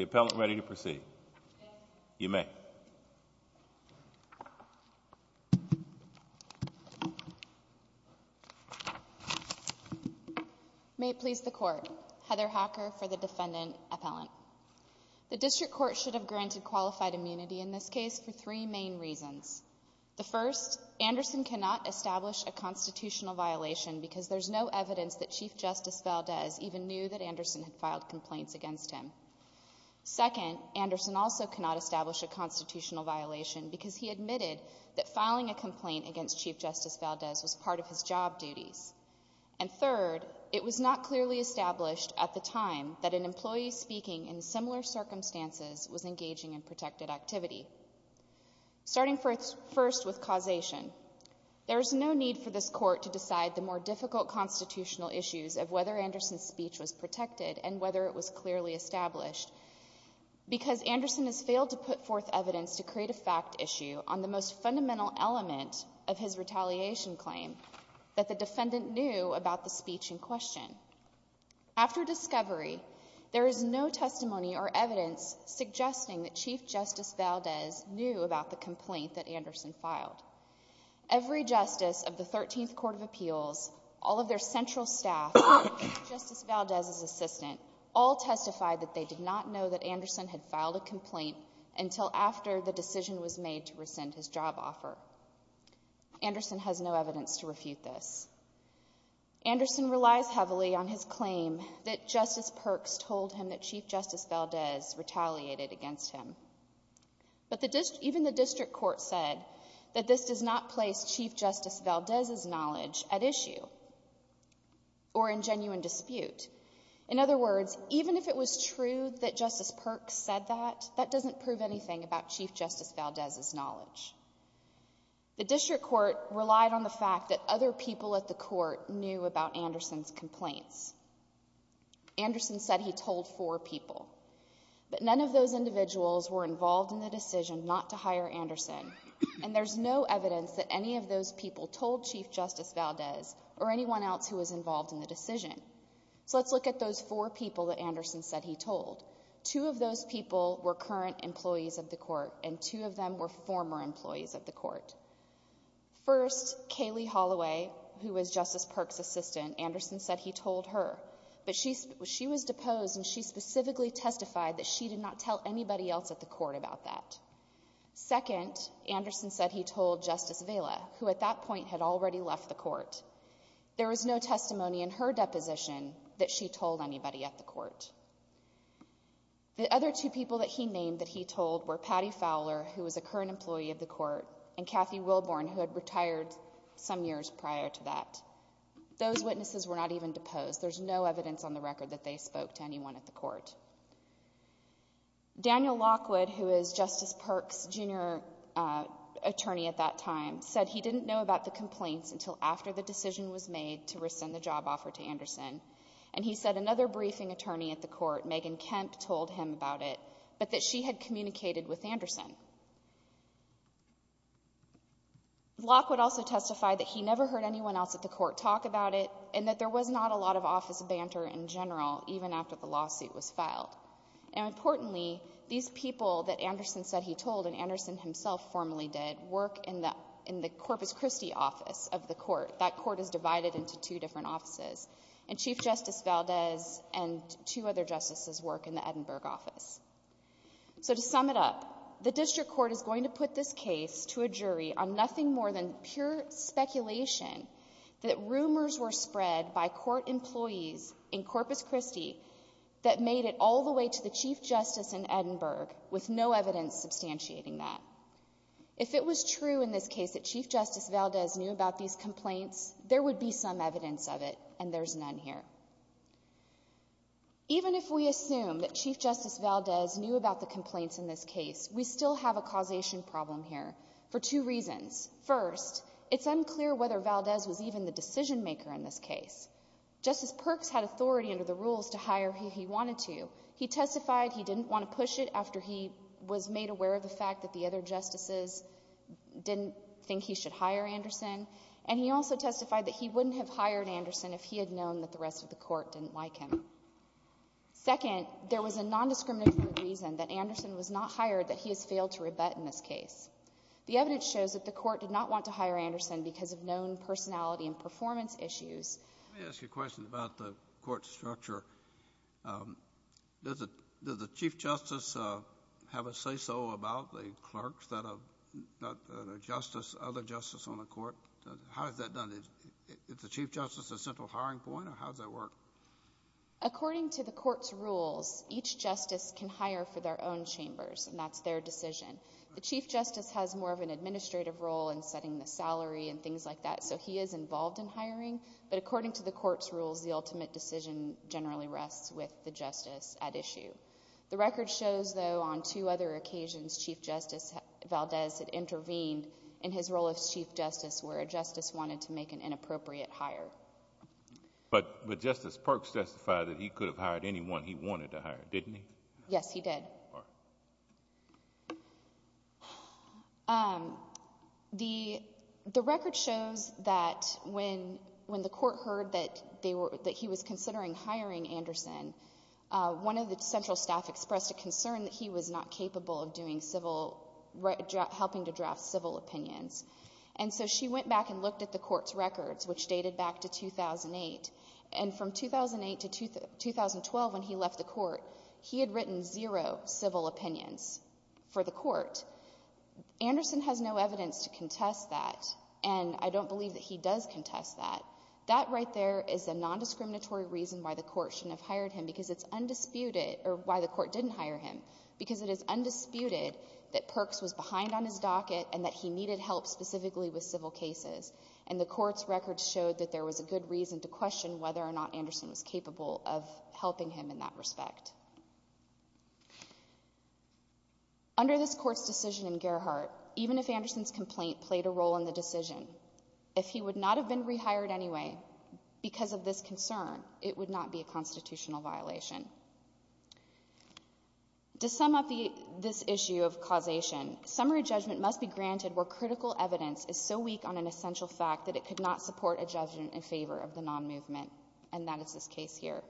Appellant ready to proceed? You may. May it please the Court, Heather Hacker for the Defendant Appellant. The District Court should have granted qualified immunity in this case for three main reasons. The first, Anderson cannot establish a constitutional violation because there's no evidence that Chief Justice Valdez even knew that Anderson had filed complaints against him. Second, Anderson also cannot establish a constitutional violation because he admitted that filing a complaint against Chief Justice Valdez was part of his job duties. And third, it was not clearly established at the time that an employee speaking in similar circumstances was engaging in protected activity. Starting first with causation, there is no need for this Court to decide the more difficult constitutional issues of whether Anderson's speech was protected and whether it was clearly established because Anderson has failed to put forth evidence to create a fact issue on the most fundamental element of his retaliation claim, that the Defendant knew about the speech in question. After discovery, there is no testimony or evidence suggesting that Chief Justice Valdez knew about the complaint that Anderson filed. Every justice of the Thirteenth Court of Appeals, all of their central staff, and Chief Justice Valdez's assistant, all testified that they did not know that Anderson had filed a complaint until after the decision was made to rescind his job offer. Anderson has no evidence to refute this. Anderson relies heavily on his claim that Justice Perks told him that Chief Justice Valdez retaliated against him. But even the District Court said that this does not place Chief Justice Valdez's knowledge at issue or in genuine dispute. In other words, even if it was true that Justice Perks said that, that doesn't prove anything about Chief Justice Valdez's knowledge. The District Court relied on the fact that other people at the Court knew about Anderson's complaints. Anderson said he told four people, but none of those individuals were involved in the decision not to hire Anderson, and there's no evidence that any of those people told Chief Justice Valdez or anyone else who was involved in the decision. So let's look at those four people that Anderson said he told. Two of those people were current employees of the Court, and two of them were former employees of the Court. First, Kaylee Holloway, who was Justice Perks' assistant, Anderson said he told her, but she was deposed and she specifically testified that she did not tell anybody else at the Court about that. Second, Anderson said he told Justice Vela, who at that point had already left the Court. There was no testimony in her deposition that she told anybody at the Court. The other two people that he named that he told were Patty Fowler, who was a current employee of the Court, and Kathy Wilborn, who had retired some years prior to that. Those witnesses were not even deposed. There's no evidence on the record that they spoke to anyone at the Court. Daniel Lockwood, who is Justice Perks' junior attorney at that time, said he didn't know about the complaints until after the decision was made to rescind the job offer to Anderson. And he said another briefing attorney at the Court, Megan Kemp, told him about it, but that she had communicated with Anderson. Lockwood also testified that he never heard anyone else at the Court talk about it, and that there was not a lot of office banter in general, even after the lawsuit was filed. And importantly, these people that Anderson said he told, and Anderson himself formally did, work in the Corpus Christi office of the Court. That Court is divided into two different offices. And Chief Justice Valdez and two other justices work in the Edinburgh office. So to sum it up, the district court is going to put this case to a jury on nothing more than pure speculation that rumors were spread by court employees in Corpus Christi that made it all the way to the Chief Justice in Edinburgh, with no evidence substantiating that. If it was true in this case that Chief Justice Valdez knew about these complaints, there would be some evidence of it, and there's none here. Even if we assume that Chief Justice Valdez knew about the complaints in this case, we still have a causation problem here, for two reasons. First, it's unclear whether Valdez was even the decision-maker in this case. Justice Perks had authority under the rules to hire who he wanted to. He testified he didn't want to push it after he was made aware of the fact that the other justices didn't think he should hire Anderson. And he also testified that he wouldn't have hired Anderson if he had known that the rest of the Court didn't like him. Second, there was a nondiscriminatory reason that Anderson was not hired, that he has failed to rebut in this case. The evidence shows that the Court did not want to hire Anderson because of known personality and performance issues. Let me ask you a question about the Court's structure. Does the Chief Justice have a say-so about the clerks that are not other justices on the Court? How is that done? Is the Chief Justice a central hiring point, or how does that work? According to the Court's rules, each justice can hire for their own chambers, and that's their decision. The Chief Justice has more of an administrative role in setting the salary and things like that, so he is involved in hiring, but according to the Court's rules, the ultimate decision generally rests with the justice at issue. The record shows, though, on two other occasions, Chief Justice Valdez had intervened in his role as Chief Justice where a justice wanted to make an inappropriate hire. But Justice Perks testified that he could have hired anyone he wanted to hire, didn't he? Yes, he did. The record shows that when the Court heard that he was considering hiring Anderson, one of the central staff expressed a concern that he was not capable of helping to draft civil opinions. And so she went back and looked at the Court's records, which dated back to 2008, and from civil opinions for the Court. Anderson has no evidence to contest that, and I don't believe that he does contest that. That right there is a nondiscriminatory reason why the Court shouldn't have hired him, because it's undisputed, or why the Court didn't hire him, because it is undisputed that Perks was behind on his docket and that he needed help specifically with civil cases. And the Court's records showed that there was a good reason to question whether or not Under this Court's decision in Gerhart, even if Anderson's complaint played a role in the decision, if he would not have been rehired anyway because of this concern, it would not be a constitutional violation. To sum up this issue of causation, summary judgment must be granted where critical evidence is so weak on an essential fact that it could not support a judgment in favor of the non-movement, and that is this case here.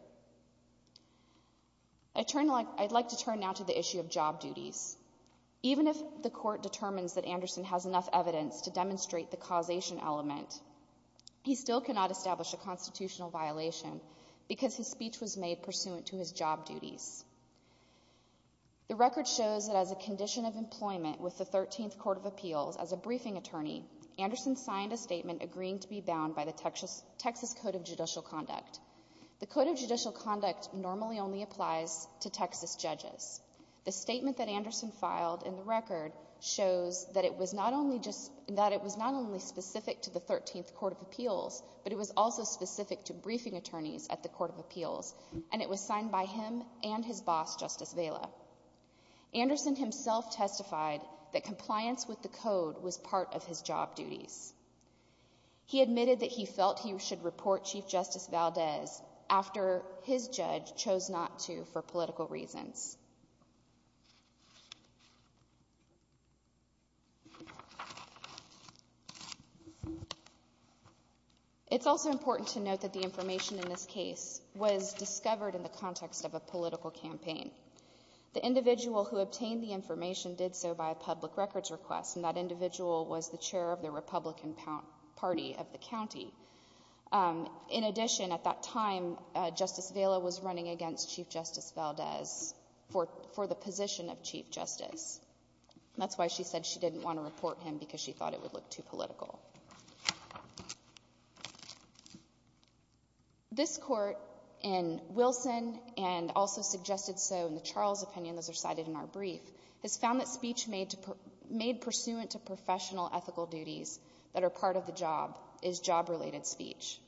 I'd like to turn now to the issue of job duties. Even if the Court determines that Anderson has enough evidence to demonstrate the causation element, he still cannot establish a constitutional violation because his speech was made pursuant to his job duties. The record shows that as a condition of employment with the Thirteenth Court of Appeals, as a briefing attorney, Anderson signed a statement agreeing to be bound by the Texas Code of Judicial Conduct. The Code of Judicial Conduct normally only applies to Texas judges. The statement that Anderson filed in the record shows that it was not only specific to the Thirteenth Court of Appeals, but it was also specific to briefing attorneys at the Court of Appeals, and it was signed by him and his boss, Justice Vaila. Anderson himself testified that compliance with the Code was part of his job duties. He admitted that he felt he should report Chief Justice Valdez after his judge chose not to for political reasons. It's also important to note that the information in this case was discovered in the context of a political campaign. The individual who obtained the information did so by a public records request, and that was the Republican Party of the county. In addition, at that time, Justice Vaila was running against Chief Justice Valdez for the position of Chief Justice. That's why she said she didn't want to report him, because she thought it would look too political. This Court in Wilson, and also suggested so in the Charles opinion, those are cited in our brief, has found that speech made pursuant to professional ethical duties that are part of the job is job-related speech.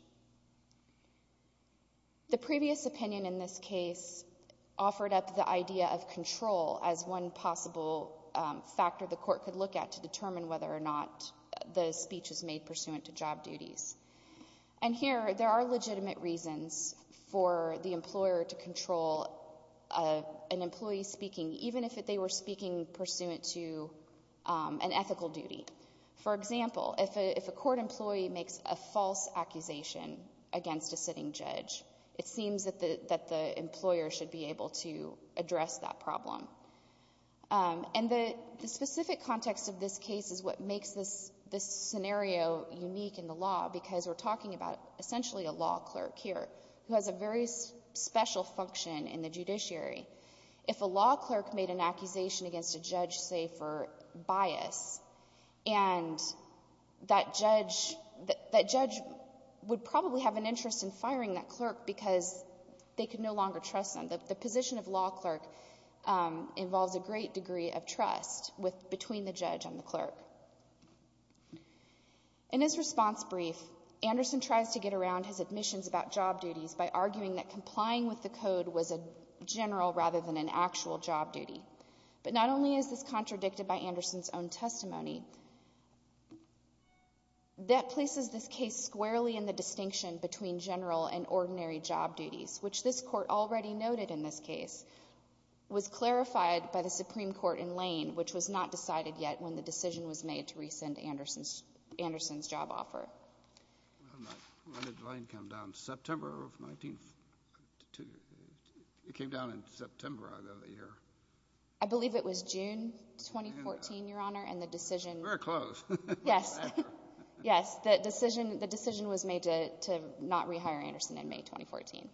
The previous opinion in this case offered up the idea of control as one possible factor the Court could look at to determine whether or not the speech is made pursuant to job duties. And here, there are legitimate reasons for the employer to control an employee speaking, even if they were speaking pursuant to an ethical duty. For example, if a court employee makes a false accusation against a sitting judge, it seems that the employer should be able to address that problem. And the specific context of this case is what makes this scenario unique in the law, because we're talking about essentially a law clerk here, who has a very special function in the judiciary. If a law clerk made an accusation against a judge, say, for bias, and that judge would probably have an interest in firing that clerk, because they could no longer trust them. The position of law clerk involves a great degree of trust between the judge and the clerk. In his response brief, Anderson tries to get around his admissions about job duties by law rather than an actual job duty. But not only is this contradicted by Anderson's own testimony, that places this case squarely in the distinction between general and ordinary job duties, which this Court already noted in this case, was clarified by the Supreme Court in Lane, which was not decided yet when the decision was made to rescind Anderson's job offer. When did Lane come down? September of 19—it came down in September of the year. I believe it was June 2014, Your Honor, and the decision— Very close. Yes. Yes. The decision was made to not rehire Anderson in May 2014.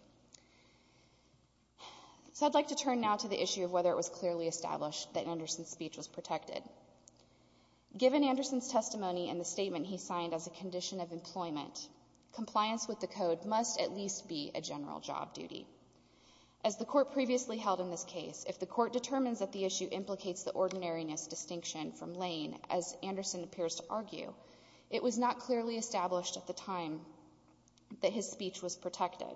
So I'd like to turn now to the issue of whether it was clearly established that Anderson's speech was protected. Given Anderson's testimony and the statement he signed as a condition of employment, compliance with the Code must at least be a general job duty. As the Court previously held in this case, if the Court determines that the issue implicates the ordinariness distinction from Lane, as Anderson appears to argue, it was not clearly established at the time that his speech was protected.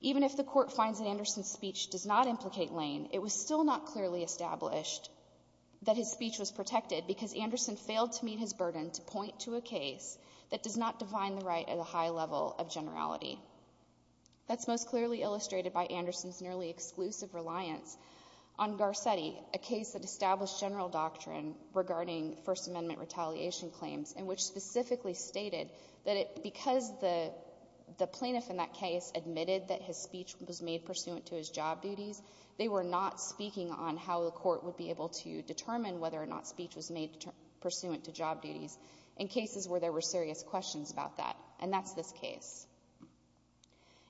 Even if the Court finds that Anderson's speech does not implicate Lane, it was still not clearly established that his speech was protected because Anderson failed to meet his burden to point to a case that does not define the right at a high level of generality. That's most clearly illustrated by Anderson's nearly exclusive reliance on Garcetti, a case that established general doctrine regarding First Amendment retaliation claims and which specifically stated that because the plaintiff in that case admitted that his speech was made pursuant to his job duties, they were not speaking on how the Court would be able to determine whether or not speech was made pursuant to job duties in cases where there were serious questions about that, and that's this case.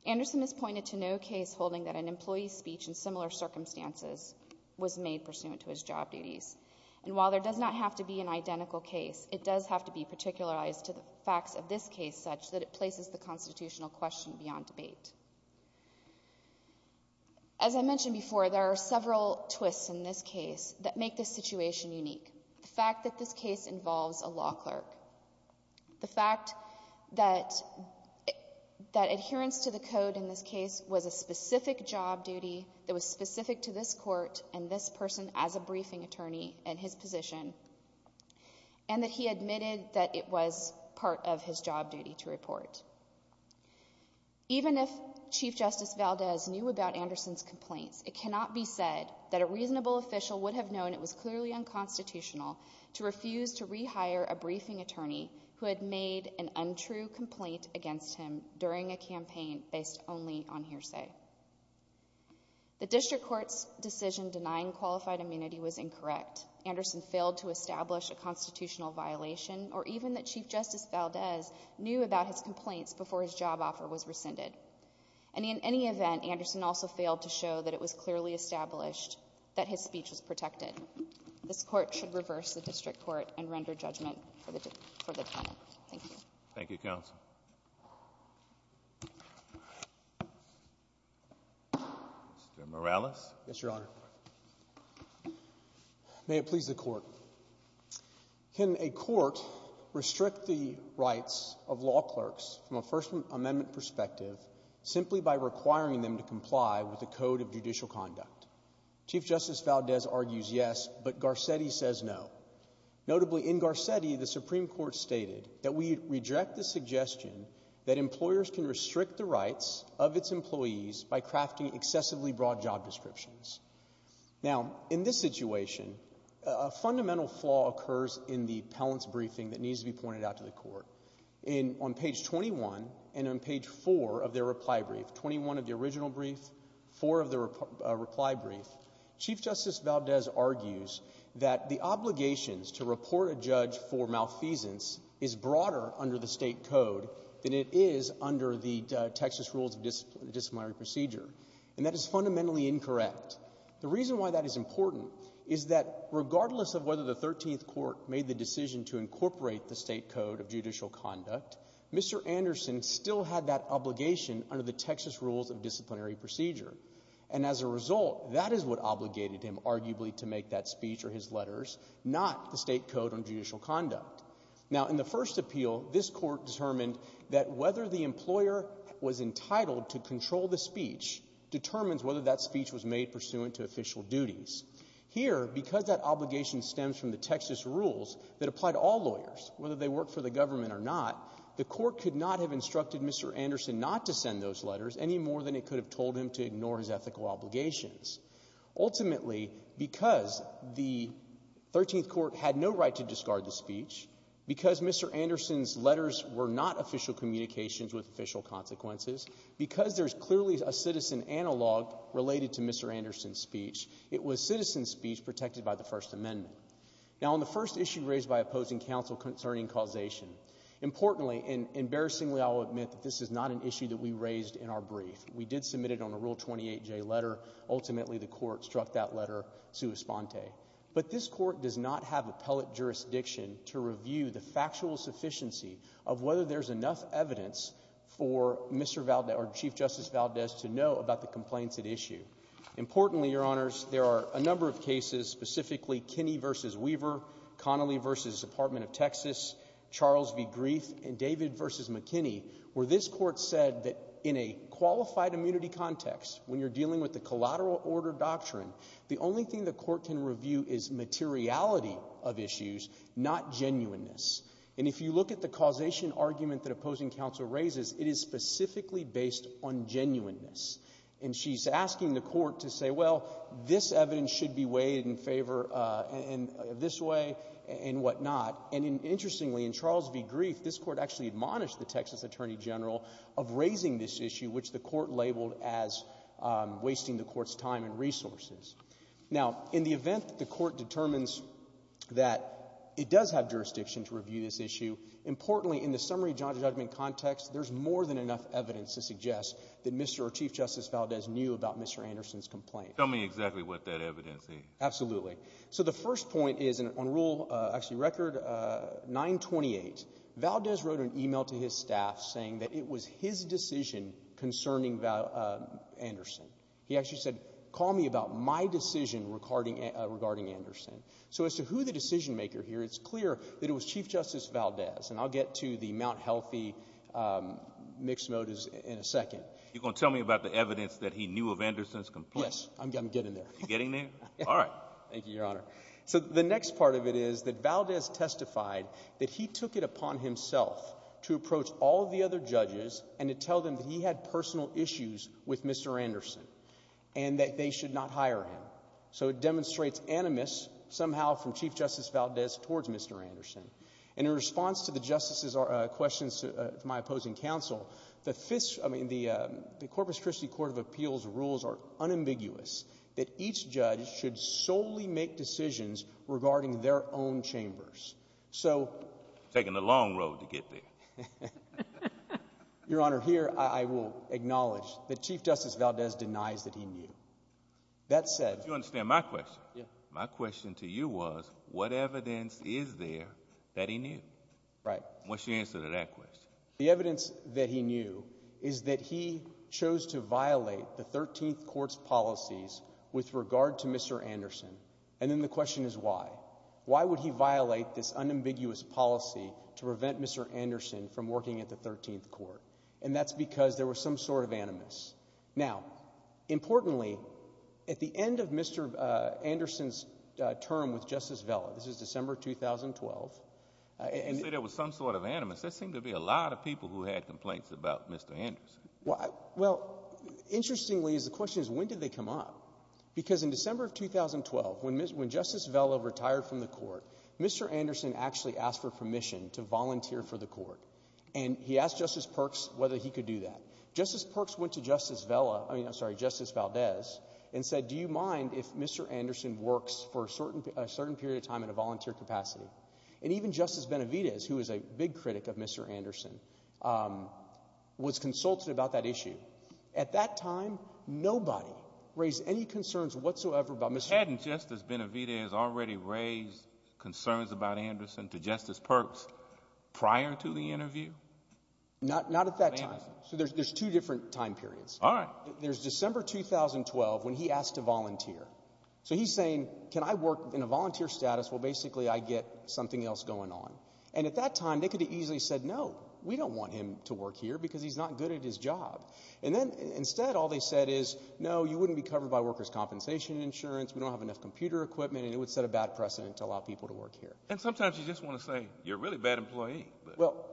Anderson has pointed to no case holding that an employee's speech in similar circumstances was made pursuant to his job duties, and while there does not have to be an identical case, it does have to be particularized to the facts of this case such that it places the constitutional question beyond debate. As I mentioned before, there are several twists in this case that make this situation unique. The fact that this case involves a law clerk, the fact that adherence to the Code in this case was a specific job duty that was specific to this Court and this person as a briefing attorney in his position, and that he admitted that it was part of his job duty to report. Even if Chief Justice Valdez knew about Anderson's complaints, it cannot be said that a reasonable official would have known it was clearly unconstitutional to refuse to rehire a briefing attorney who had made an untrue complaint against him during a campaign based only on hearsay. The district court's decision denying qualified immunity was incorrect. Anderson failed to establish a constitutional violation, or even that Chief Justice Valdez knew about his complaints before his job offer was rescinded. And in any event, Anderson also failed to show that it was clearly established that his speech was protected. This Court should reverse the district court and render judgment for the defendant. Thank you. Thank you, Counsel. Mr. Morales. Yes, Your Honor. May it please the Court. Can a court restrict the rights of law clerks from a First Amendment perspective simply by requiring them to comply with the Code of Judicial Conduct? Chief Justice Valdez argues yes, but Garcetti says no. Notably, in Garcetti, the Supreme Court stated that we reject the suggestion that employers can restrict the rights of its employees by crafting excessively broad job descriptions. Now, in this situation, a fundamental flaw occurs in the palant's briefing that needs to be pointed out to the Court. On page 21 and on page 4 of their reply brief, 21 of the original brief, 4 of the reply brief, Chief Justice Valdez argues that the obligations to report a judge for malfeasance is broader under the state code than it is under the Texas Rules of Disciplinary Procedure. And that is fundamentally incorrect. The reason why that is important is that regardless of whether the 13th Court made the decision to incorporate the state code of judicial conduct, Mr. Anderson still had that obligation under the Texas Rules of Disciplinary Procedure. And as a result, that is what obligated him arguably to make that speech or his letters, not the state code on judicial conduct. Now, in the first appeal, this Court determined that whether the employer was entitled to control the speech determines whether that speech was made pursuant to official duties. Here, because that obligation stems from the Texas Rules that apply to all lawyers, whether they work for the government or not, the Court could not have instructed Mr. Anderson not to send those letters any more than it could have told him to ignore his ethical obligations. Ultimately, because the 13th Court had no right to discard the speech, because Mr. Anderson's letters were not official communications with official consequences, because there's clearly a citizen analog related to Mr. Anderson's speech, it was citizen speech protected by the First Amendment. Now, on the first issue raised by opposing counsel concerning causation, importantly and embarrassingly, I will admit that this is not an issue that we raised in our brief. We did submit it on a Rule 28J letter. Ultimately, the Court struck that letter sua sponte. But this Court does not have appellate jurisdiction to review the factual sufficiency of whether there's enough evidence for Mr. Valdez or Chief Justice Valdez to know about the complaints at issue. Importantly, Your Honors, there are a number of cases, specifically Kinney v. Weaver, Connolly v. Department of Texas, Charles v. Grief, and David v. McKinney, where this Court said that in a qualified immunity context, when you're dealing with the collateral order doctrine, the only thing the Court can review is materiality of issues, not genuineness. And if you look at the causation argument that opposing counsel raises, it is specifically based on genuineness. And she's asking the Court to say, well, this evidence should be weighed in favor in this way and whatnot. And interestingly, in Charles v. Grief, this Court actually admonished the Texas Attorney General of raising this issue, which the Court labeled as wasting the Court's time and resources. Now, in the event that the Court determines that it does have jurisdiction to review this issue, importantly, in the summary judgment context, there's more than enough evidence to suggest that Mr. or Chief Justice Valdez knew about Mr. Anderson's complaint. Tell me exactly what that evidence is. Absolutely. So the first point is, on Rule, actually Record 928, Valdez wrote an email to his staff saying that it was his decision concerning Anderson. He actually said, call me about my decision regarding Anderson. So as to who the decision maker here, it's clear that it was Chief Justice Valdez. And I'll get to the Mount Healthy mixed motives in a second. You're going to tell me about the evidence that he knew of Anderson's complaint? Yes. I'm getting there. You're getting there? All right. Thank you, Your Honor. So the next part of it is that Valdez testified that he took it upon himself to approach all the other judges and to tell them that he had personal issues with Mr. Anderson and that they should not hire him. So it demonstrates animus somehow from Chief Justice Valdez towards Mr. Anderson. And in response to the justices' questions from my opposing counsel, the Corpus Christi Court of Appeals rules are unambiguous that each judge should solely make decisions regarding their own chambers. So. Taking the long road to get there. Your Honor, here I will acknowledge that Chief Justice Valdez denies that he knew. That said. You understand my question? Yeah. My question to you was, what evidence is there that he knew? Right. What's your answer to that question? The evidence that he knew is that he chose to violate the 13th Court's policies with regard to Mr. Anderson. And then the question is why? Why would he violate this unambiguous policy to prevent Mr. Anderson from working at the 13th Court? And that's because there was some sort of animus. Now. Importantly, at the end of Mr. Anderson's term with Justice Vela, this is December 2012, and. You say there was some sort of animus. There seemed to be a lot of people who had complaints about Mr. Anderson. Well, interestingly, the question is when did they come up? Because in December of 2012, when Justice Vela retired from the court, Mr. Anderson actually asked for permission to volunteer for the court. And he asked Justice Perks whether he could do that. Justice Perks went to Justice Valdez and said, do you mind if Mr. Anderson works for a certain period of time in a volunteer capacity? And even Justice Benavidez, who is a big critic of Mr. Anderson, was consulted about that issue. At that time, nobody raised any concerns whatsoever about Mr. Hadn't Justice Benavidez already raised concerns about Anderson to Justice Perks prior to the interview? Not at that time. So there's two different time periods. All right. There's December 2012 when he asked to volunteer. So he's saying, can I work in a volunteer status? Well, basically, I get something else going on. And at that time, they could have easily said, no, we don't want him to work here because he's not good at his job. And then instead, all they said is, no, you wouldn't be covered by workers compensation insurance. We don't have enough computer equipment. And it would set a bad precedent to allow people to work here. And sometimes you just want to say, you're a really bad employee. Well,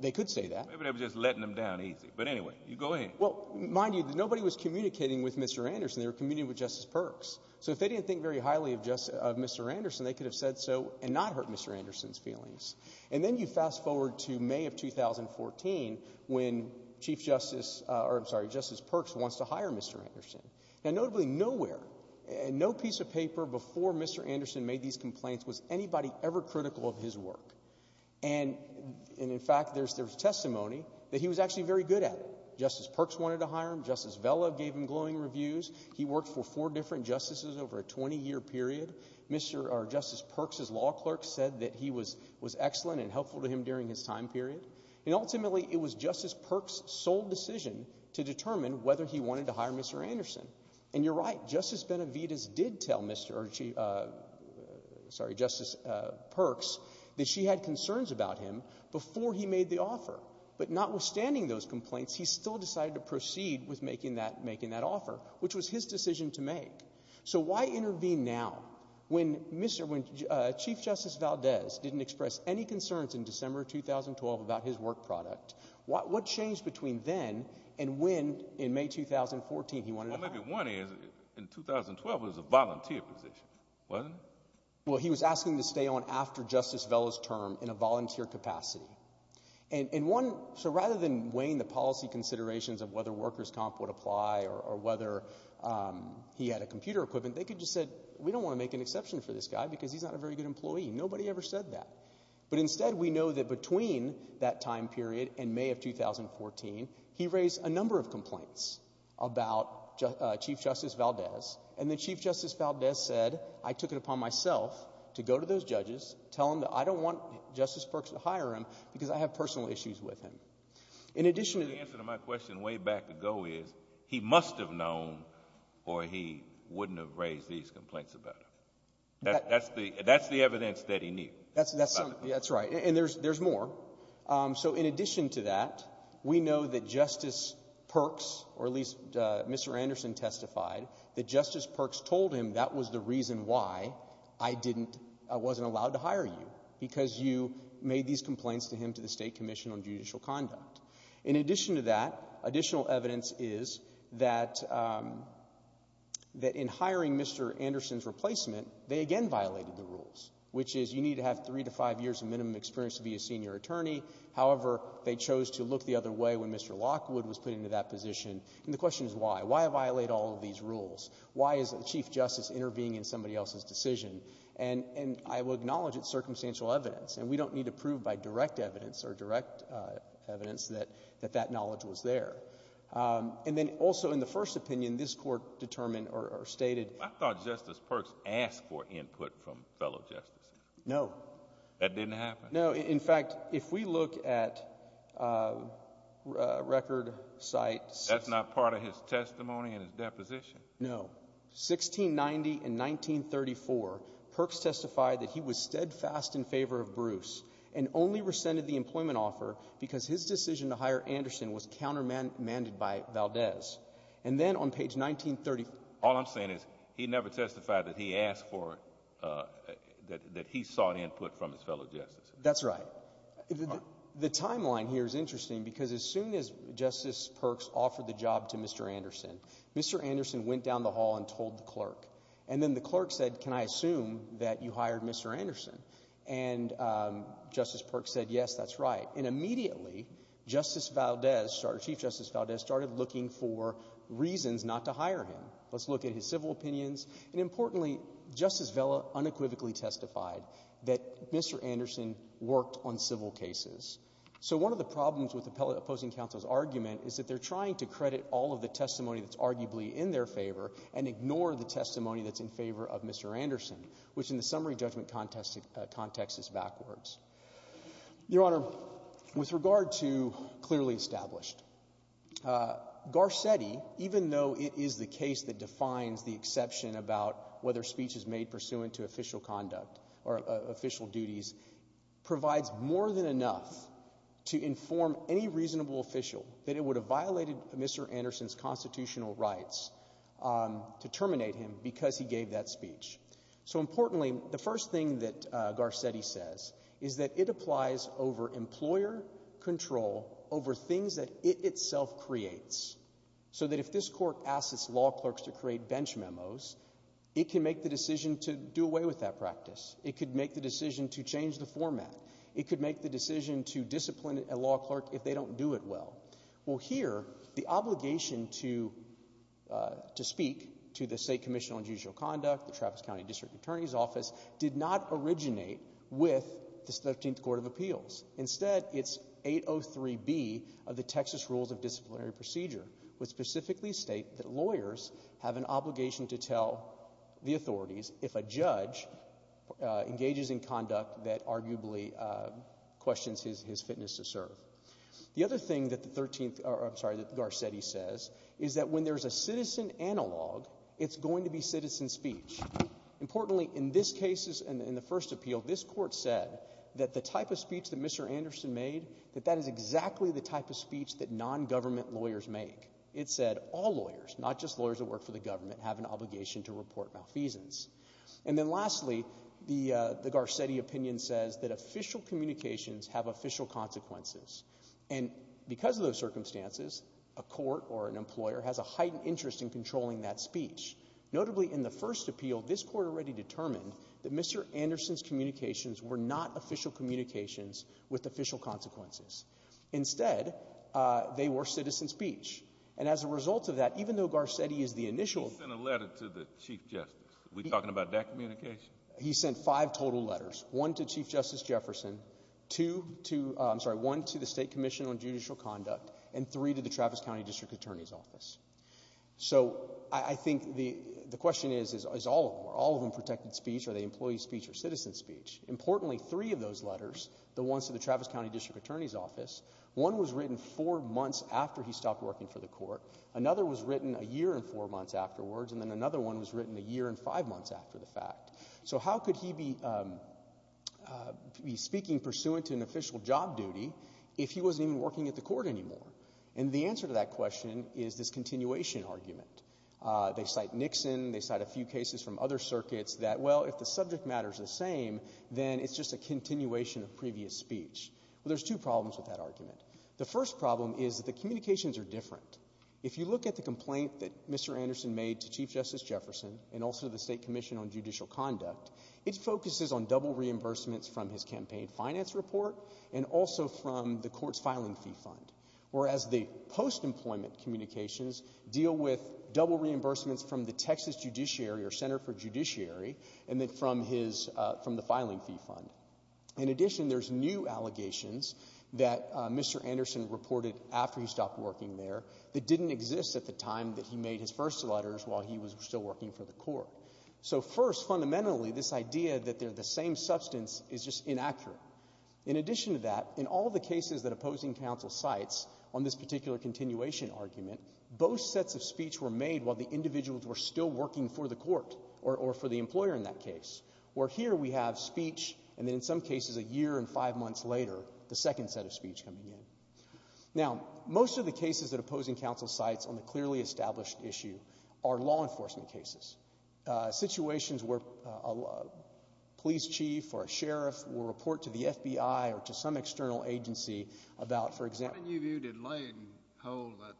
they could say that. Maybe they were just letting him down easy. But anyway, you go ahead. Well, mind you, nobody was communicating with Mr. Anderson. They were communicating with Justice Perks. So if they didn't think very highly of Mr. Anderson, they could have said so and not hurt Mr. Anderson's feelings. And then you fast forward to May of 2014 when Chief Justice, or I'm sorry, Justice Perks wants to hire Mr. Anderson. Now, notably, nowhere, no piece of paper before Mr. Anderson made these complaints was anybody ever critical of his work. And in fact, there's testimony that he was actually very good at it. Justice Perks wanted to hire him. Justice Vela gave him glowing reviews. He worked for four different justices over a 20-year period. Justice Perks' law clerk said that he was excellent and helpful to him during his time period. And ultimately, it was Justice Perks' sole decision to determine whether he wanted to hire Mr. Anderson. And you're right. Justice Benavides did tell Justice Perks that she had concerns about him before he made the offer. But notwithstanding those complaints, he still decided to proceed with making that offer, which was his decision to make. So why intervene now when Chief Justice Valdez didn't express any concerns in December 2012 about his work product? What changed between then and when, in May 2014, he wanted to hire him? Well, maybe one is, in 2012, it was a volunteer position, wasn't it? Well, he was asking to stay on after Justice Vela's term in a volunteer capacity. And one, so rather than weighing the policy considerations of whether workers' comp would apply or whether he had a computer equipment, they could just say, we don't want to make an exception for this guy because he's not a very good employee. Nobody ever said that. But instead, we know that between that time period and May of 2014, he raised a number of complaints about Chief Justice Valdez. And then Chief Justice Valdez said, I took it upon myself to go to those judges, tell them that I don't want Justice Perks to hire him because I have personal issues with him. In addition to the- So his goal is, he must have known or he wouldn't have raised these complaints about him. That's the evidence that he needed. That's right. And there's more. So in addition to that, we know that Justice Perks, or at least Mr. Anderson testified, that Justice Perks told him that was the reason why I wasn't allowed to hire you, because you made these complaints to him to the State Commission on Judicial Conduct. In addition to that, additional evidence is that in hiring Mr. Anderson's replacement, they again violated the rules, which is you need to have three to five years of minimum experience to be a senior attorney. However, they chose to look the other way when Mr. Lockwood was put into that position, and the question is why? Why violate all of these rules? Why is the Chief Justice intervening in somebody else's decision? And I will acknowledge it's circumstantial evidence, and we don't need to prove by direct evidence or direct evidence that that knowledge was there. And then also in the first opinion, this Court determined or stated — I thought Justice Perks asked for input from fellow justices. No. That didn't happen? No. In fact, if we look at record sites — That's not part of his testimony and his deposition? No. In 1690 and 1934, Perks testified that he was steadfast in favor of Bruce and only rescinded the employment offer because his decision to hire Anderson was countermanded by Valdez. And then on page 1934 — All I'm saying is he never testified that he asked for — that he sought input from his fellow justices. That's right. The timeline here is interesting because as soon as Justice Perks offered the job to Mr. Anderson, Mr. Anderson went down the hall and told the clerk. And then the clerk said, can I assume that you hired Mr. Anderson? And Justice Perks said, yes, that's right. And immediately, Justice Valdez, Chief Justice Valdez, started looking for reasons not to hire him. Let's look at his civil opinions, and importantly, Justice Vela unequivocally testified that Mr. Anderson worked on civil cases. So one of the problems with opposing counsel's argument is that they're trying to credit all of the testimony that's arguably in their favor and ignore the testimony that's in favor of Mr. Anderson, which in the summary judgment context is backwards. Your Honor, with regard to clearly established, Garcetti, even though it is the case that defines the exception about whether speech is made pursuant to official conduct or official duties, provides more than enough to inform any reasonable official that it would have Mr. Anderson's constitutional rights to terminate him because he gave that speech. So importantly, the first thing that Garcetti says is that it applies over employer control over things that it itself creates. So that if this court asks its law clerks to create bench memos, it can make the decision to do away with that practice. It could make the decision to change the format. It could make the decision to discipline a law clerk if they don't do it well. Well, here, the obligation to speak to the State Commission on Judicial Conduct, the Travis County District Attorney's Office, did not originate with the 13th Court of Appeals. Instead, it's 803B of the Texas Rules of Disciplinary Procedure, which specifically state that lawyers have an obligation to tell the authorities if a judge engages in conduct that arguably questions his fitness to serve. The other thing that Garcetti says is that when there's a citizen analog, it's going to be citizen speech. Importantly, in this case, in the first appeal, this court said that the type of speech that Mr. Anderson made, that that is exactly the type of speech that non-government lawyers make. It said all lawyers, not just lawyers that work for the government, have an obligation to report malfeasance. And then lastly, the Garcetti opinion says that official communications have official consequences. And because of those circumstances, a court or an employer has a heightened interest in controlling that speech. Notably, in the first appeal, this court already determined that Mr. Anderson's communications were not official communications with official consequences. Instead, they were citizen speech. And as a result of that, even though Garcetti is the initial — He sent a letter to the Chief Justice. Are we talking about that communication? He sent five total letters. One to Chief Justice Jefferson, two to — I'm sorry, one to the State Commission on Judicial Conduct, and three to the Travis County District Attorney's Office. So I think the question is, is all of them. Are all of them protected speech? Are they employee speech or citizen speech? Importantly, three of those letters, the ones to the Travis County District Attorney's Office, one was written four months after he stopped working for the court, another was written a year and four months afterwards, and then another one was written a year and five months after the fact. So how could he be speaking pursuant to an official job duty if he wasn't even working at the court anymore? And the answer to that question is this continuation argument. They cite Nixon. They cite a few cases from other circuits that, well, if the subject matter is the same, then it's just a continuation of previous speech. Well, there's two problems with that argument. The first problem is that the communications are different. If you look at the complaint that Mr. Anderson made to Chief Justice Jefferson and also the State Commission on Judicial Conduct, it focuses on double reimbursements from his campaign finance report and also from the court's filing fee fund, whereas the post-employment communications deal with double reimbursements from the Texas judiciary or Center for Judiciary and then from his, from the filing fee fund. In addition, there's new allegations that Mr. Anderson reported after he stopped working there that didn't exist at the time that he made his first letters while he was still working for the court. So first, fundamentally, this idea that they're the same substance is just inaccurate. In addition to that, in all the cases that opposing counsel cites on this particular continuation argument, both sets of speech were made while the individuals were still working for the court or for the employer in that case, where here we have speech and then in some cases a year and five months later, the second set of speech coming in. Now, most of the cases that opposing counsel cites on the clearly established issue are law enforcement cases, situations where a police chief or a sheriff will report to the FBI or to some external agency about, for example... When you viewed it, Lane held that...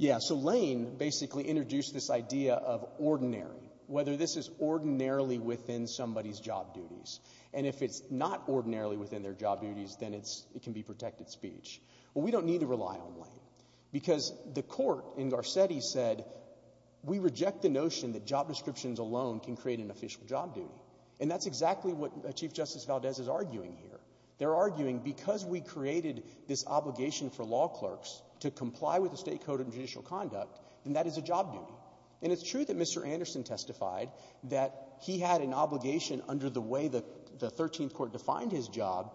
Yeah, so Lane basically introduced this idea of ordinary, whether this is ordinarily within somebody's job duties, and if it's not ordinarily within their job duties, then it can be protected speech. Well, we don't need to rely on Lane because the court in Garcetti said, we reject the notion that job descriptions alone can create an official job duty. And that's exactly what Chief Justice Valdez is arguing here. They're arguing because we created this obligation for law clerks to comply with the state code of judicial conduct, then that is a job duty. And it's true that Mr. Anderson testified that he had an obligation under the way that the Thirteenth Court defined his job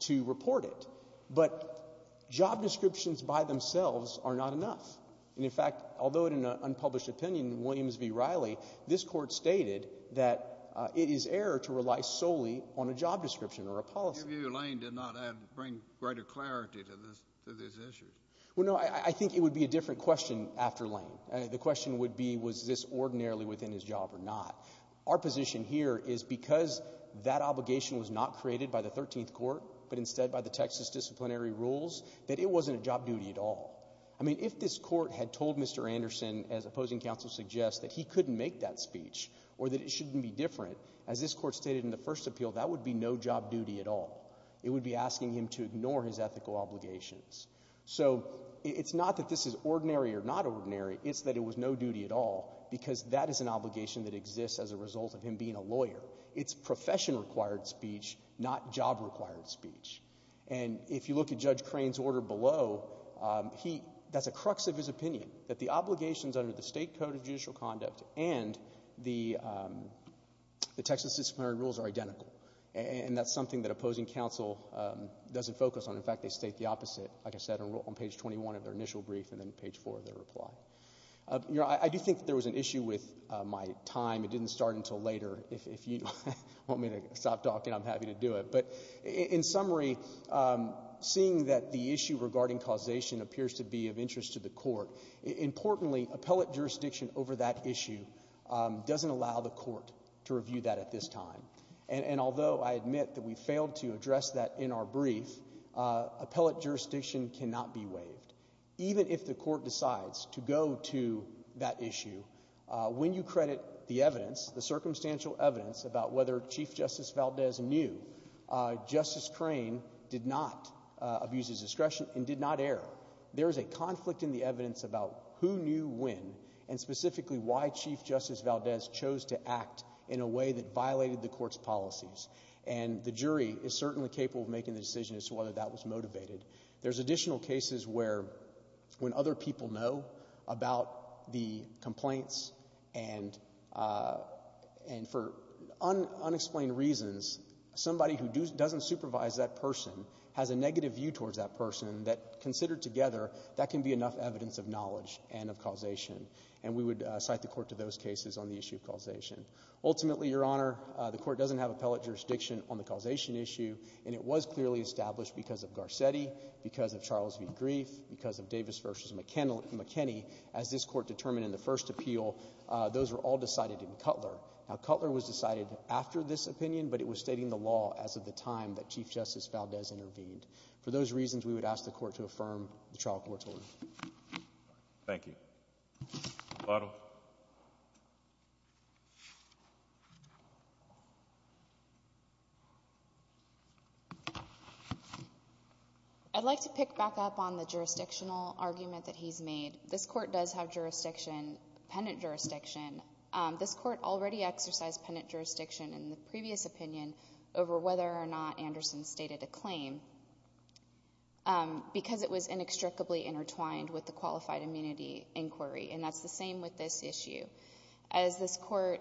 to report it. But job descriptions by themselves are not enough. And in fact, although in an unpublished opinion in Williams v. Riley, this court stated that it is error to rely solely on a job description or a policy. In your view, Lane did not bring greater clarity to these issues. Well, no, I think it would be a different question after Lane. The question would be, was this ordinarily within his job or not? Our position here is because that obligation was not created by the Thirteenth Court, but instead by the Texas disciplinary rules, that it wasn't a job duty at all. I mean, if this court had told Mr. Anderson, as opposing counsel suggests, that he couldn't make that speech or that it shouldn't be different, as this court stated in the first appeal, that would be no job duty at all. It would be asking him to ignore his ethical obligations. So it's not that this is ordinary or not ordinary, it's that it was no duty at all because that court, it's profession-required speech, not job-required speech. And if you look at Judge Crane's order below, he — that's a crux of his opinion, that the obligations under the State Code of Judicial Conduct and the Texas disciplinary rules are identical. And that's something that opposing counsel doesn't focus on. In fact, they state the opposite, like I said, on page 21 of their initial brief and then page 4 of their reply. You know, I do think that there was an issue with my time. It didn't start until later. If you want me to stop talking, I'm happy to do it. But in summary, seeing that the issue regarding causation appears to be of interest to the Court, importantly, appellate jurisdiction over that issue doesn't allow the Court to review that at this time. And although I admit that we failed to address that in our brief, appellate jurisdiction cannot be waived. Even if the Court decides to go to that issue, when you credit the evidence, the circumstantial evidence about whether Chief Justice Valdez knew, Justice Crane did not abuse his discretion and did not err. There is a conflict in the evidence about who knew when and specifically why Chief Justice Valdez chose to act in a way that violated the Court's policies. And the jury is certainly capable of making the decision as to whether that was motivated. There's additional cases where when other people know about the complaints and for unexplained reasons, somebody who doesn't supervise that person has a negative view towards that person that considered together, that can be enough evidence of knowledge and of causation. And we would cite the Court to those cases on the issue of causation. Ultimately, Your Honor, the Court doesn't have appellate jurisdiction on the causation issue. And it was clearly established because of Garcetti, because of Charles v. Grief, because of Davis v. McKinney, as this Court determined in the first appeal, those were all decided in Cutler. Now, Cutler was decided after this opinion, but it was stating the law as of the time that Chief Justice Valdez intervened. For those reasons, we would ask the Court to affirm the trial court's order. Thank you. Baruch. I'd like to pick back up on the jurisdictional argument that he's made. This Court does have jurisdiction, penitent jurisdiction. This Court already exercised penitent jurisdiction in the previous opinion over whether or not Anderson stated a claim because it was inextricably intertwined with the qualified immunity in the inquiry, and that's the same with this issue. As this Court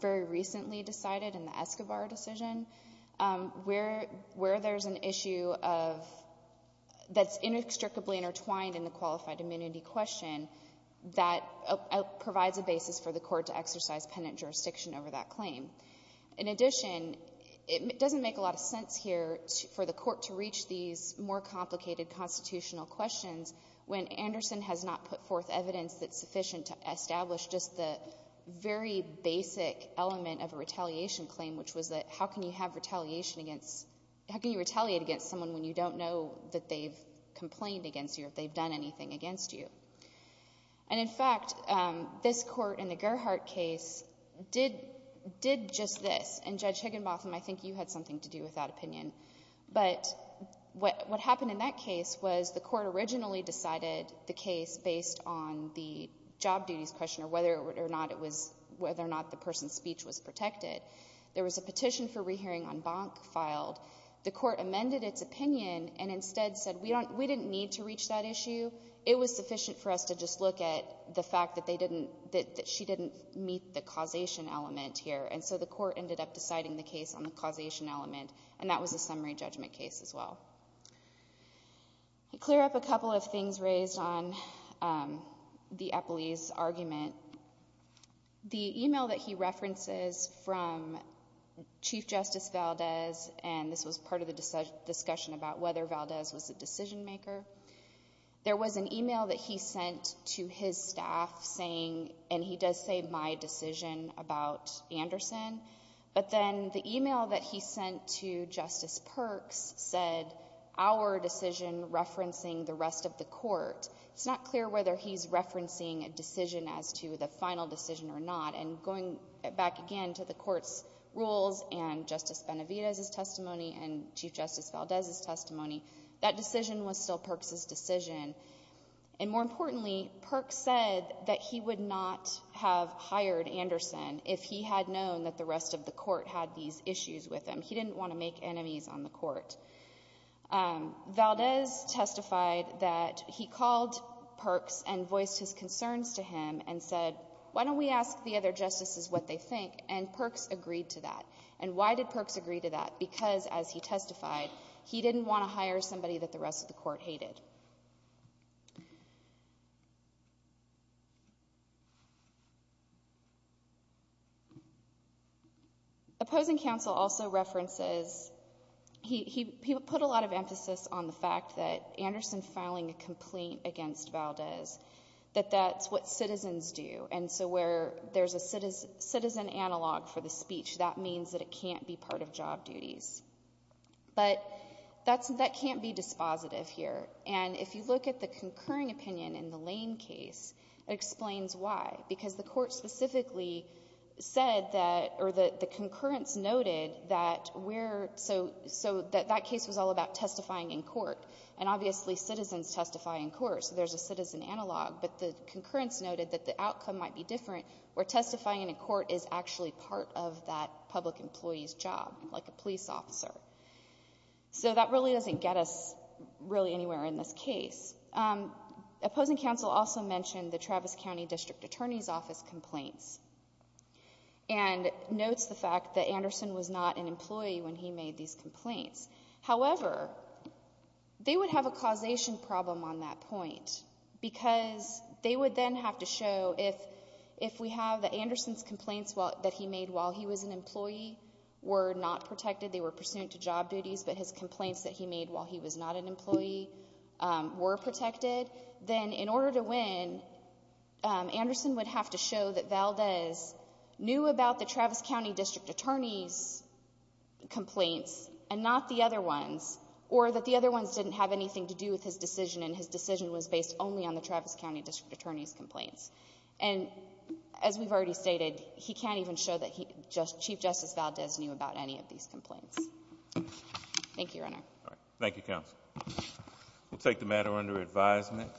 very recently decided in the Escobar decision, where there's an issue of — that's inextricably intertwined in the qualified immunity question, that provides a basis for the Court to exercise penitent jurisdiction over that claim. In addition, it doesn't make a lot of sense here for the Court to reach these more complicated constitutional questions when Anderson has not put forth evidence that's sufficient to establish just the very basic element of a retaliation claim, which was that how can you have retaliation against — how can you retaliate against someone when you don't know that they've complained against you or if they've done anything against you? And in fact, this Court in the Gerhardt case did — did just this. And Judge Higginbotham, I think you had something to do with that opinion. But what happened in that case was the Court originally decided the case based on the job duties question or whether or not it was — whether or not the person's speech was protected. There was a petition for rehearing on Bonk filed. The Court amended its opinion and instead said, we don't — we didn't need to reach that issue. It was sufficient for us to just look at the fact that they didn't — that she didn't meet the causation element here. And so the Court ended up deciding the case on the causation element. And that was a summary judgment case as well. To clear up a couple of things raised on the Eppley's argument, the email that he references from Chief Justice Valdez — and this was part of the discussion about whether Valdez was a decision-maker — there was an email that he sent to his staff saying — and he sent to Justice Perks — said, our decision referencing the rest of the Court. It's not clear whether he's referencing a decision as to the final decision or not. And going back again to the Court's rules and Justice Benavidez's testimony and Chief Justice Valdez's testimony, that decision was still Perks's decision. And more importantly, Perks said that he would not have hired Anderson if he had known that the rest of the Court had these issues with him. He didn't want to make enemies on the Court. Valdez testified that he called Perks and voiced his concerns to him and said, why don't we ask the other justices what they think? And Perks agreed to that. And why did Perks agree to that? Because as he testified, he didn't want to hire somebody that the rest of the Court hated. Opposing counsel also references — he put a lot of emphasis on the fact that Anderson filing a complaint against Valdez, that that's what citizens do. And so where there's a citizen analog for the speech, that means that it can't be part of job duties. But that can't be dispositive here. And if you look at the concurring opinion in the Lane case, it explains why. Because the Court specifically said that — or the concurrence noted that we're — so that that case was all about testifying in court. And obviously citizens testify in court, so there's a citizen analog. But the concurrence noted that the outcome might be different where testifying in court is actually part of that public employee's job, like a police officer. So that really doesn't get us really anywhere in this case. Opposing counsel also mentioned the Travis County District Attorney's Office complaints and notes the fact that Anderson was not an employee when he made these complaints. However, they would have a causation problem on that point because they would then have to show if we have that Anderson's complaints that he made while he was an employee were not protected, they were pursuant to job duties, but his complaints that he made while he was not an employee were protected, then in order to win, Anderson would have to show that Valdez knew about the Travis County District Attorney's complaints and not the other ones, or that the other ones didn't have anything to do with his decision and his decision was based only on the Travis County District Attorney's complaints. And as we've already stated, he can't even show that Chief Justice Valdez knew about any of these complaints. Thank you, Your Honor. Thank you, counsel. We'll take the matter under advisement.